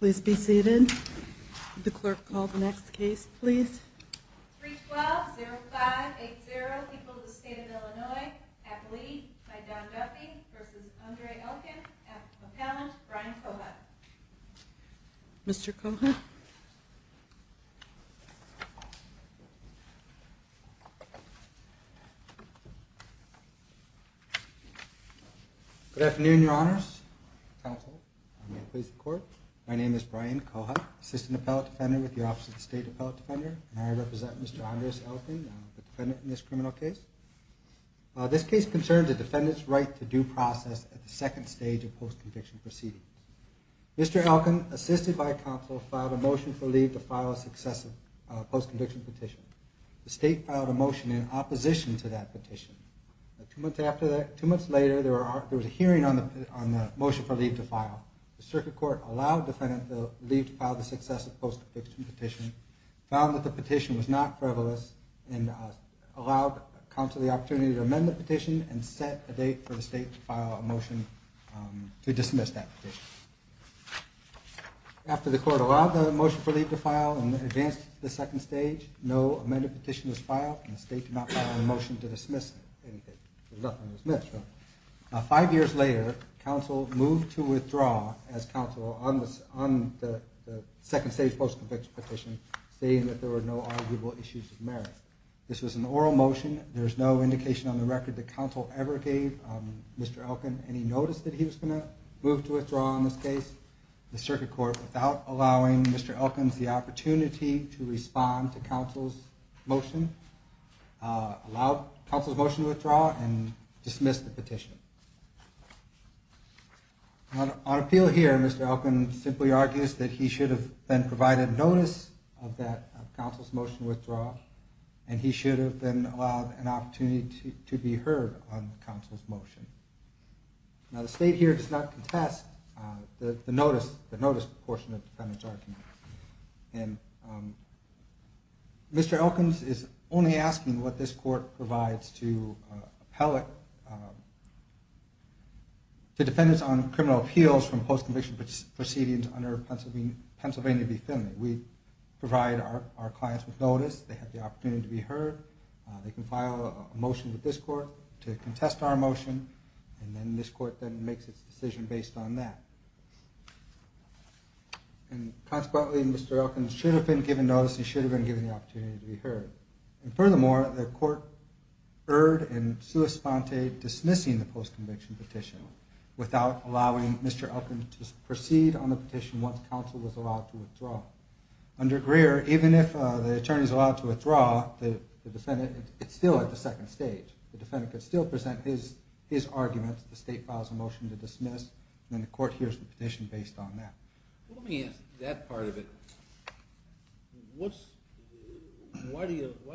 Please be seated. The clerk called the next case please. Mr. Cohut. Good afternoon, Your Honors. My name is Brian Cohut, Assistant Appellate Defender with the Office of the State Appellate Defender, and I represent Mr. Andres Elken, the defendant in this criminal case. This case concerns a defendant's right to due process at the second stage of post-conviction proceedings. Mr. Elken, assisted by counsel, filed a motion for leave to file a successive post-conviction petition. The state filed a motion in opposition to that petition. Two months later, there was a hearing on the motion for leave to file. The circuit court allowed the defendant to leave to file the successive post-conviction petition, found that the petition was not frivolous, and allowed counsel the opportunity to amend the petition and set a date for the state to file a motion to dismiss that petition. After the court allowed the motion for leave to file and advanced it to the second stage, no amended petition was filed and the state did not file a motion to dismiss it. Five years later, counsel moved to withdraw as counsel on the second stage post-conviction petition, stating that there were no arguable issues of merit. This was an oral motion. There is no indication on the record that counsel ever gave Mr. Elken any notice that he was going to move to withdraw on this case. The circuit court, without allowing Mr. Elken the opportunity to respond to counsel's motion, allowed counsel's motion to withdraw and dismissed the petition. On appeal here, Mr. Elken simply argues that he should have then provided notice of counsel's motion to withdraw and he should have then allowed an opportunity to be heard on counsel's motion. Now the state here does not contest the notice portion of the defendant's argument. Mr. Elken is only asking what this court provides to defendants on criminal appeals from post-conviction proceedings under Pennsylvania v. Finley. We provide our clients with notice, they have the opportunity to be heard, they can file a motion with this court to contest our motion, and then this court makes its decision based on that. And consequently, Mr. Elken should have been given notice, he should have been given the opportunity to be heard. And furthermore, the court erred in sua sponte dismissing the post-conviction petition without allowing Mr. Elken to proceed on the petition once counsel was allowed to withdraw. Under Greer, even if the attorney is allowed to withdraw, the defendant is still at the second stage. The defendant could still present his arguments, the state files a motion to dismiss, and then the court hears the petition based on that. Let me ask that part of it. Why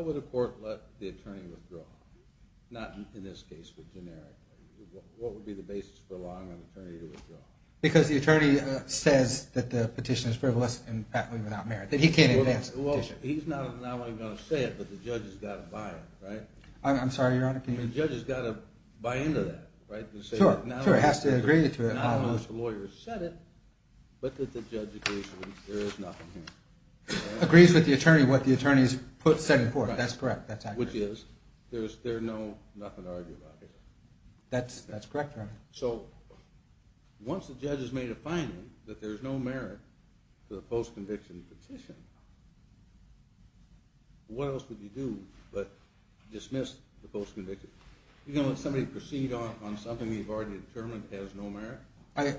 would a court let the attorney withdraw? Not in this case, but generically. What would be the basis for allowing an attorney to withdraw? Because the attorney says that the petition is frivolous and patently without merit, that he can't advance the petition. Well, he's not only going to say it, but the judge has got to buy it, right? I'm sorry, Your Honor, can you repeat that? The judge has got to buy into that, right? Sure, he has to agree to it. Not unless the lawyer has said it, but that the judge agrees that there is nothing here. Agrees with the attorney what the attorney has set forth, that's correct. Which is, there's nothing to argue about here. That's correct, Your Honor. So, once the judge has made a finding that there's no merit to the post-conviction petition, what else would he do but dismiss the post-conviction? You're going to let somebody proceed on something you've already determined has no merit?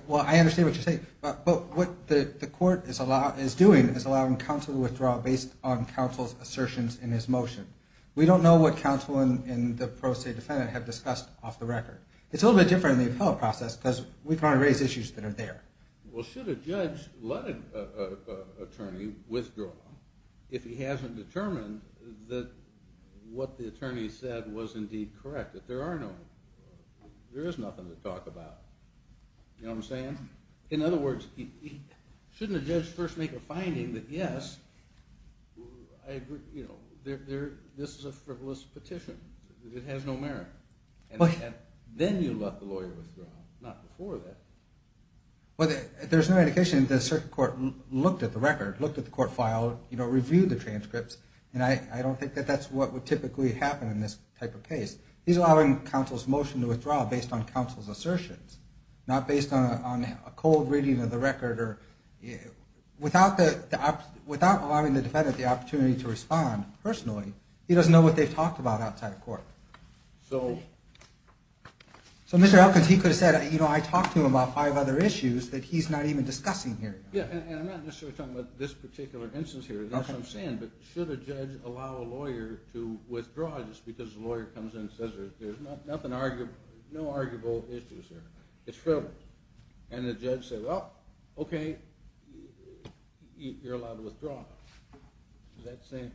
Well, I understand what you're saying, but what the court is doing is allowing counsel to withdraw based on counsel's assertions in his motion. We don't know what counsel and the pro se defendant have discussed off the record. It's a little bit different in the appellate process because we try to raise issues that are there. Well, should a judge let an attorney withdraw if he hasn't determined that what the attorney said was indeed correct, that there is nothing to talk about? You know what I'm saying? In other words, shouldn't a judge first make a finding that, yes, this is a frivolous petition, that it has no merit? Then you let the lawyer withdraw, not before that. Well, there's no indication that a certain court looked at the record, looked at the court file, reviewed the transcripts, and I don't think that that's what would typically happen in this type of case. He's allowing counsel's motion to withdraw based on counsel's assertions, not based on a cold reading of the record. Without allowing the defendant the opportunity to respond personally, he doesn't know what they've talked about outside the court. So Mr. Elkins, he could have said, you know, I talked to him about five other issues that he's not even discussing here. Yeah, and I'm not necessarily talking about this particular instance here. That's what I'm saying, but should a judge allow a lawyer to withdraw just because the lawyer comes in and says there's no arguable issues here? It's frivolous. And the judge says, well, okay, you're allowed to withdraw. Is that the same?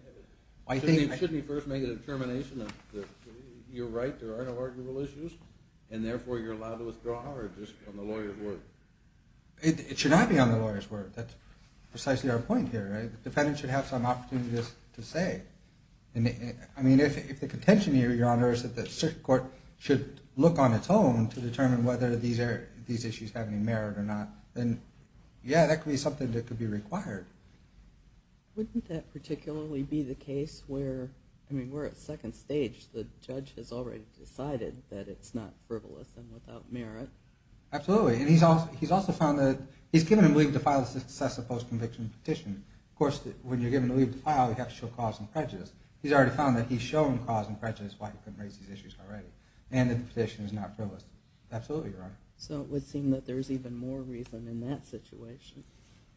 Shouldn't he first make a determination that you're right, there are no arguable issues, and therefore you're allowed to withdraw, or just on the lawyer's word? It should not be on the lawyer's word. That's precisely our point here. The defendant should have some opportunity to say. I mean, if the contention here, Your Honor, is that the court should look on its own to determine whether these issues have any merit or not, then yeah, that could be something that could be required. Wouldn't that particularly be the case where, I mean, we're at second stage. The judge has already decided that it's not frivolous and without merit. Absolutely, and he's also found that he's given him leave to file a successful post-conviction petition. Of course, when you're given leave to file, you have to show cause and prejudice. He's already found that he's shown cause and prejudice why he couldn't raise these issues already, and that the petition is not frivolous. Absolutely, Your Honor. So it would seem that there's even more reason in that situation.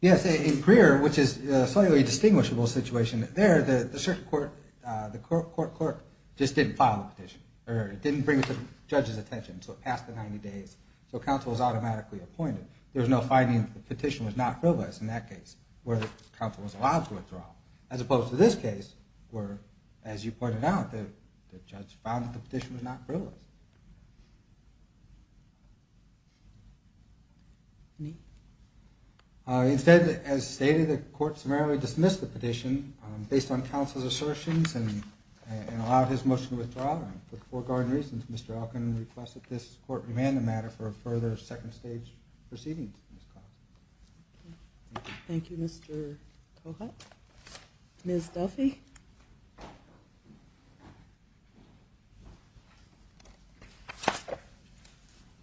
Yes, in Creer, which is a slightly distinguishable situation there, the circuit court, the court clerk, just didn't file the petition. It didn't bring it to the judge's attention, so it passed the 90 days, so counsel was automatically appointed. There was no finding that the petition was not frivolous in that case where the counsel was allowed to withdraw. As opposed to this case where, as you pointed out, the judge found that the petition was not frivolous. Any questions? Instead, as stated, the court summarily dismissed the petition based on counsel's assertions and allowed his motion to withdraw. With foregoing reasons, Mr. Elkin requests that this court remand the matter for a further second stage proceeding. Thank you, Mr. Cohut. Ms. Duffy?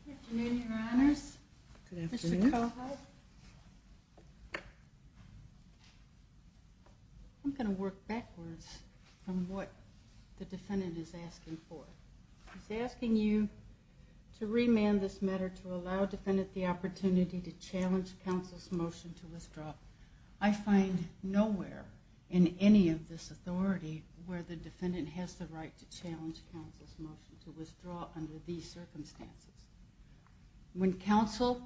Good afternoon, Your Honors. Good afternoon. Mr. Cohut. I'm going to work backwards on what the defendant is asking for. He's asking you to remand this matter to allow the defendant the opportunity to challenge counsel's motion to withdraw. I find nowhere in any of this authority where the defendant has the right to challenge counsel's motion to withdraw under these circumstances. When counsel,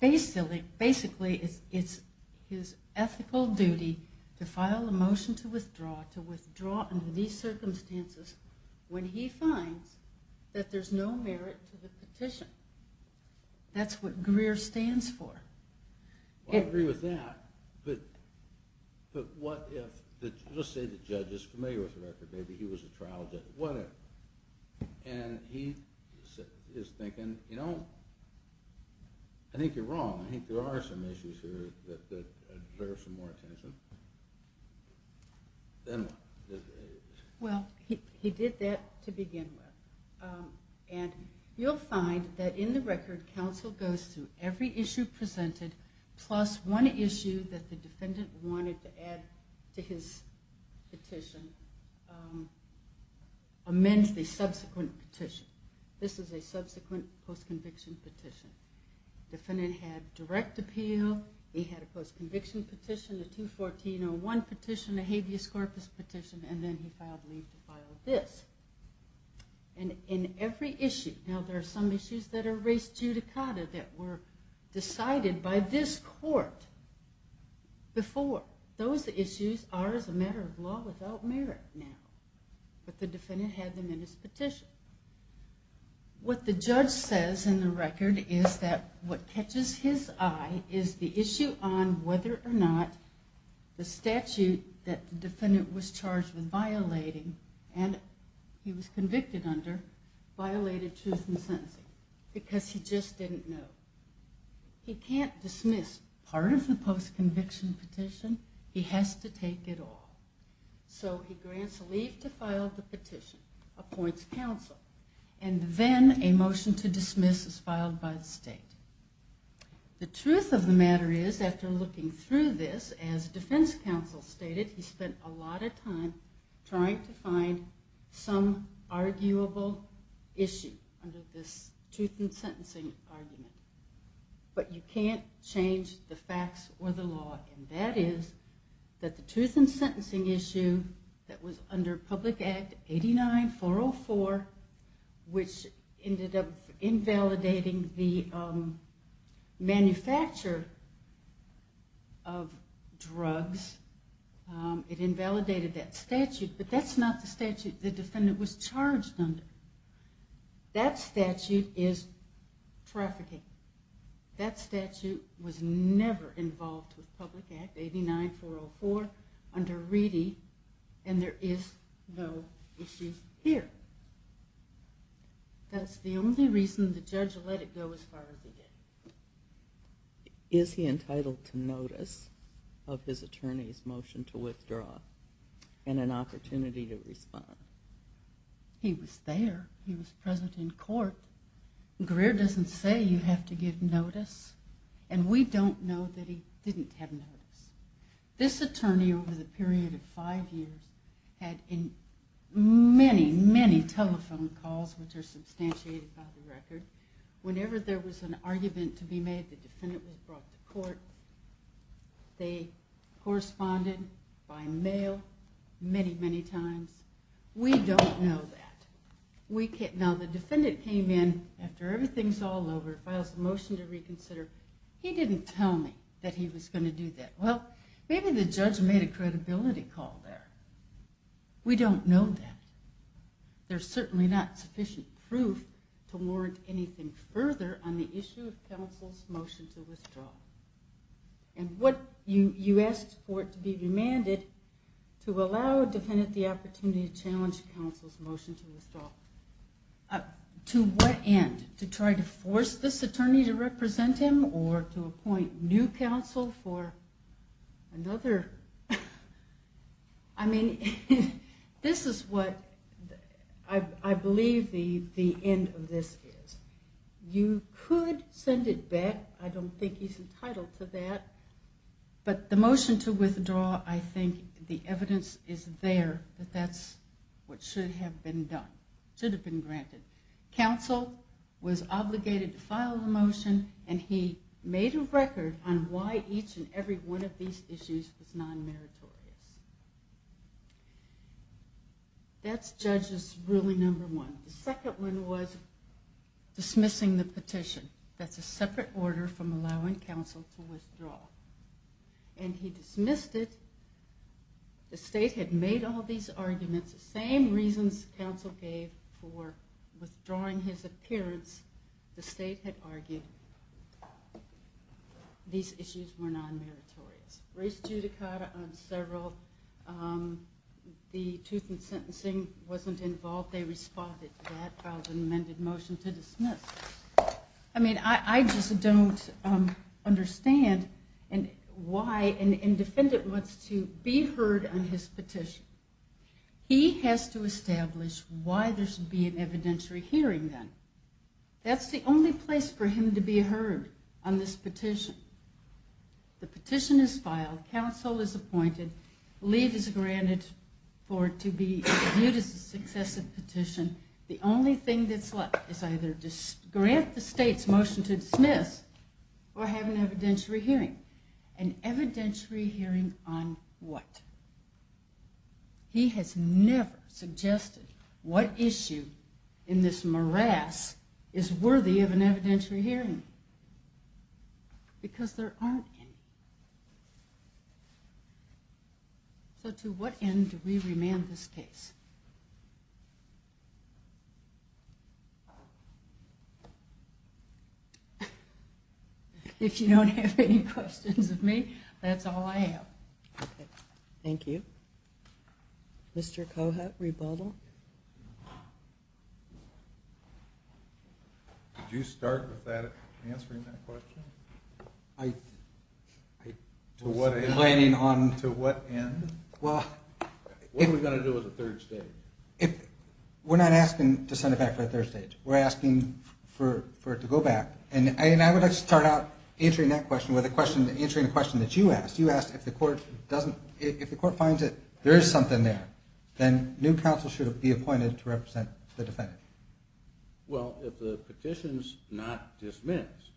basically, it's his ethical duty to file a motion to withdraw, to withdraw under these circumstances, when he finds that there's no merit to the petition. That's what Greer stands for. I agree with that, but what if, let's say the judge is familiar with the record, maybe he was a trial judge, what if? And he is thinking, you know, I think you're wrong. I think there are some issues here that deserve some more attention. Then what? Well, he did that to begin with. You'll find that in the record, counsel goes through every issue presented, plus one issue that the defendant wanted to add to his petition, amends the subsequent petition. This is a subsequent post-conviction petition. Defendant had direct appeal, he had a post-conviction petition, a 214-01 petition, a habeas corpus petition, and then he filed leave to file this. And in every issue, now there are some issues that are race judicata that were decided by this court before. Those issues are as a matter of law without merit now, but the defendant had them in his petition. What the judge says in the record is that what catches his eye is the issue on whether or not the statute that the defendant was charged with violating and he was convicted under violated truth in sentencing because he just didn't know. He can't dismiss part of the post-conviction petition. He has to take it all. So he grants leave to file the petition, appoints counsel, and then a motion to dismiss is filed by the state. The truth of the matter is, after looking through this, as defense counsel stated, he spent a lot of time trying to find some arguable issue under this truth in sentencing argument. But you can't change the facts or the law and that is that the truth in sentencing issue that was under Public Act 89-404, which ended up invalidating the manufacture of drugs, it invalidated that statute, but that's not the statute the defendant was charged under. That statute is trafficking. That statute was never involved with Public Act 89-404 under Reedy and there is no issue here. That's the only reason the judge let it go as far as he did. Is he entitled to notice of his attorney's motion to withdraw and an opportunity to respond? He was there. He was present in court. Greer doesn't say you have to give notice and we don't know that he didn't have notice. This attorney over the period of five years had many, many telephone calls which are substantiated by the record. Whenever there was an argument to be made, the defendant was brought to court. They corresponded by mail many, many times. We don't know that. Now the defendant came in after everything's all over, files a motion to reconsider. He didn't tell me that he was going to do that. Well, maybe the judge made a credibility call there. We don't know that. There's certainly not sufficient proof to warrant anything further on the issue of counsel's motion to withdraw. You asked for it to be remanded to allow a defendant the opportunity to challenge counsel's motion to withdraw. To what end? To try to force this attorney to represent him or to appoint new counsel for another? I mean, this is what I believe the end of this is. You could send it back. I don't think he's entitled to that. But the motion to withdraw, I think the evidence is there that that's what should have been done, should have been granted. Counsel was obligated to file the motion and he made a record on why each and every one of these issues was non-meritorious. That's judge's ruling number one. The second one was dismissing the petition. That's a separate order from allowing counsel to withdraw. And he dismissed it. The state had made all these arguments. The same reasons counsel gave for withdrawing his appearance, the state had argued these issues were non-meritorious. Raised judicata on several. The tooth and sentencing wasn't involved. They responded to that, filed an amended motion to dismiss. I mean, I just don't understand why an defendant wants to be heard on his petition. He has to establish why there should be an evidentiary hearing then. That's the only place for him to be heard on this petition. The petition is filed. Counsel is appointed. Leave is granted for it to be viewed as a successive petition. The only thing that's left is either to grant the state's motion to dismiss or have an evidentiary hearing. An evidentiary hearing on what? He has never suggested what issue in this morass is worthy of an evidentiary hearing. Because there aren't any. So to what end do we remand this case? If you don't have any questions of me, that's all I have. Thank you. Mr. Cohut, rebuttal. Did you start with that, answering that question? To what end? What are we going to do as a third stage? We're not asking to send it back for a third stage. We're asking for it to go back. And I would like to start out answering that question with answering a question that you asked. You asked if the court finds that there is something there, then new counsel should be appointed to represent the defendant. Well, if the petition's not dismissed,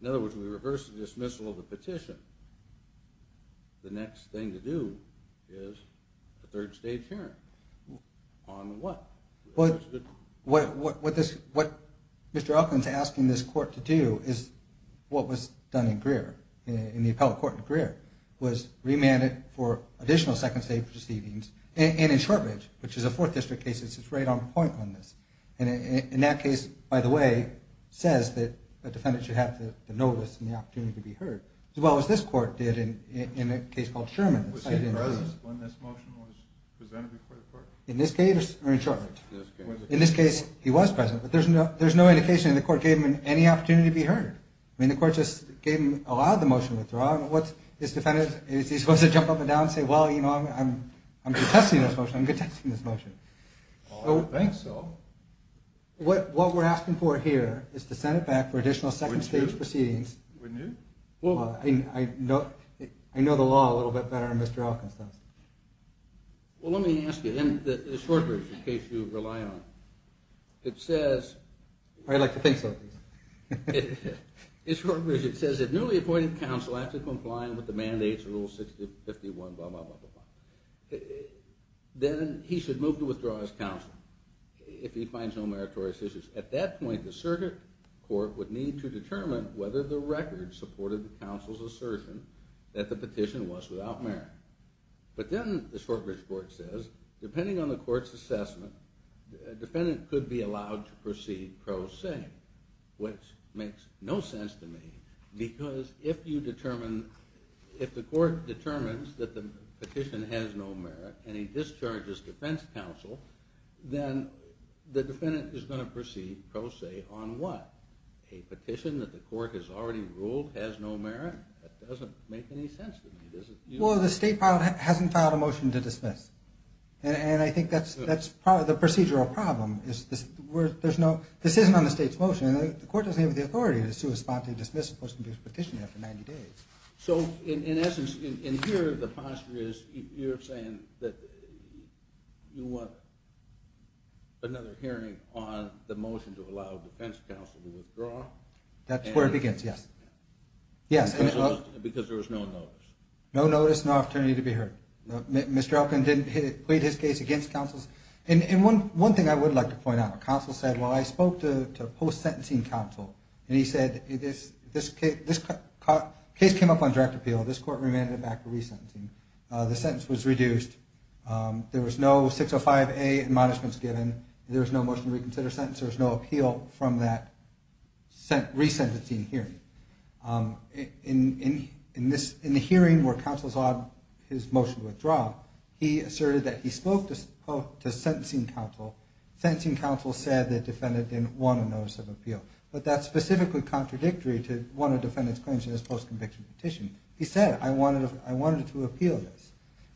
in other words, we reverse the dismissal of the petition, the next thing to do is a third stage hearing. On what? What Mr. Elkins is asking this court to do is what was done in Greer, in the appellate court in Greer, was remanded for additional second stage proceedings. And in Shortridge, which is a fourth district case, it's right on point on this. And in that case, by the way, says that the defendant should have the notice and the opportunity to be heard, as well as this court did in a case called Sherman. Was he present when this motion was presented before the court? In this case or in Shortridge? In this case. In this case he was present, but there's no indication the court gave him any opportunity to be heard. I mean, the court just gave him a lot of the motion withdrawal. What is the defendant, is he supposed to jump up and down and say, well, you know, I'm contesting this motion. I'm contesting this motion. I don't think so. What we're asking for here is to send it back for additional second stage proceedings. Renew? I know the law a little bit better than Mr. Elkins does. Well, let me ask you, in the Shortridge case you rely on, it says. I'd like to think so. In Shortridge it says that newly appointed counsel has to comply with the mandates of Rule 651, blah, blah, blah, blah. Then he should move to withdraw his counsel if he finds no meritorious issues. At that point, the circuit court would need to determine whether the record supported the counsel's assertion that the petition was without merit. But then the Shortridge court says, depending on the court's assessment, a defendant could be allowed to proceed pro se, which makes no sense to me. Because if you determine, if the court determines that the petition has no merit and he discharges defense counsel, then the defendant is going to proceed pro se on what? A petition that the court has already ruled has no merit? That doesn't make any sense to me. Well, the state hasn't filed a motion to dismiss. And I think that's the procedural problem. This isn't on the state's motion. The court doesn't have the authority to respond to a dismissed post-conviction petition after 90 days. So in essence, in here the posture is you're saying that you want another hearing on the motion to allow defense counsel to withdraw? That's where it begins, yes. Because there was no notice. No notice, no opportunity to be heard. Mr. Elkin didn't plead his case against counsel. And one thing I would like to point out. Counsel said, well, I spoke to post-sentencing counsel. And he said, this case came up on direct appeal. This court remanded it back to resentencing. The sentence was reduced. There was no 605A admonishments given. There was no motion to reconsider sentence. There was no appeal from that resentencing hearing. In the hearing where counsel saw his motion to withdraw, he asserted that he spoke to sentencing counsel. Sentencing counsel said the defendant didn't want a notice of appeal. But that's specifically contradictory to one of the defendant's claims in his post-conviction petition. He said, I wanted to appeal this.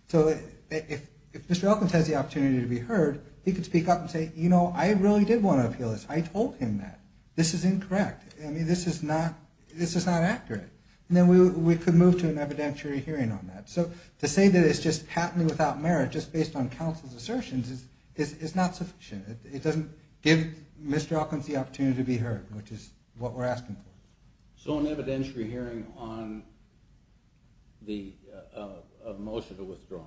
So if Mr. Elkins has the opportunity to be heard, he could speak up and say, you know, I really did want to appeal this. I told him that. This is incorrect. I mean, this is not accurate. And then we could move to an evidentiary hearing on that. So to say that it's just patently without merit just based on counsel's assertions is not sufficient. It doesn't give Mr. Elkins the opportunity to be heard, which is what we're asking for. So an evidentiary hearing on the motion to withdraw.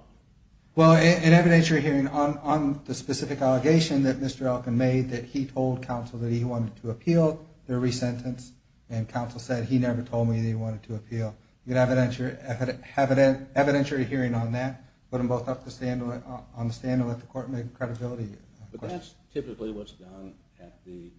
Well, an evidentiary hearing on the specific allegation that Mr. Elkins made that he told counsel that he wanted to appeal the resentence and counsel said he never told me that he wanted to appeal. You could have an evidentiary hearing on that, put them both up on the stand and let the court make a credibility question. But that's typically what's done at the...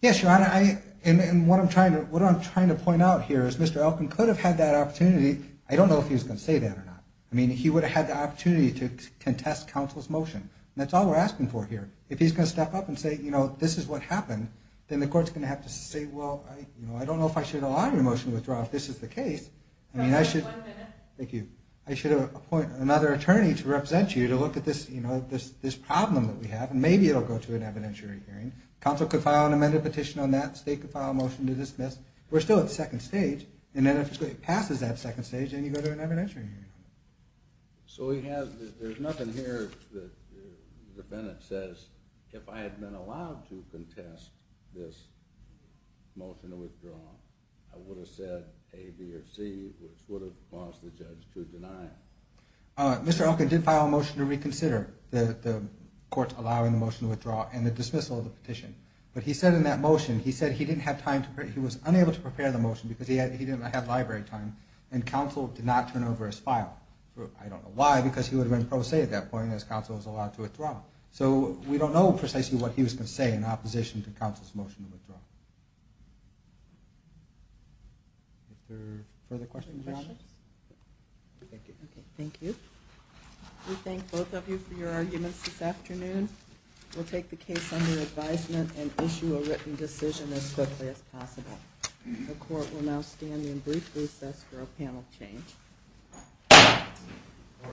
Yes, Your Honor. And what I'm trying to point out here is Mr. Elkins could have had that opportunity. I don't know if he was going to say that or not. I mean, he would have had the opportunity to contest counsel's motion. That's all we're asking for here. If he's going to step up and say, you know, this is what happened, then the court's going to have to say, well, you know, I don't know if I should allow your motion to withdraw if this is the case. I mean, I should... One minute. Thank you. I should appoint another attorney to represent you to look at this, you know, this problem that we have, and maybe it will go to an evidentiary hearing. Counsel could file an amended petition on that. The state could file a motion to dismiss. We're still at the second stage. And then if it passes that second stage, then you go to an evidentiary hearing. So there's nothing here that the defendant says, if I had been allowed to contest this motion to withdraw, I would have said A, B, or C, which would have caused the judge to deny it. Mr. Elkin did file a motion to reconsider the court's allowing the motion to withdraw and the dismissal of the petition. But he said in that motion, he said he didn't have time to prepare, he was unable to prepare the motion because he didn't have library time, and counsel did not turn over his file. I don't know why, because he would have been pro se at that point as counsel was allowed to withdraw. So we don't know precisely what he was going to say in opposition to counsel's motion to withdraw. Are there further questions or comments? Thank you. Thank you. We thank both of you for your arguments this afternoon. We'll take the case under advisement and issue a written decision as quickly as possible. The court will now stand and briefly assess for a panel change.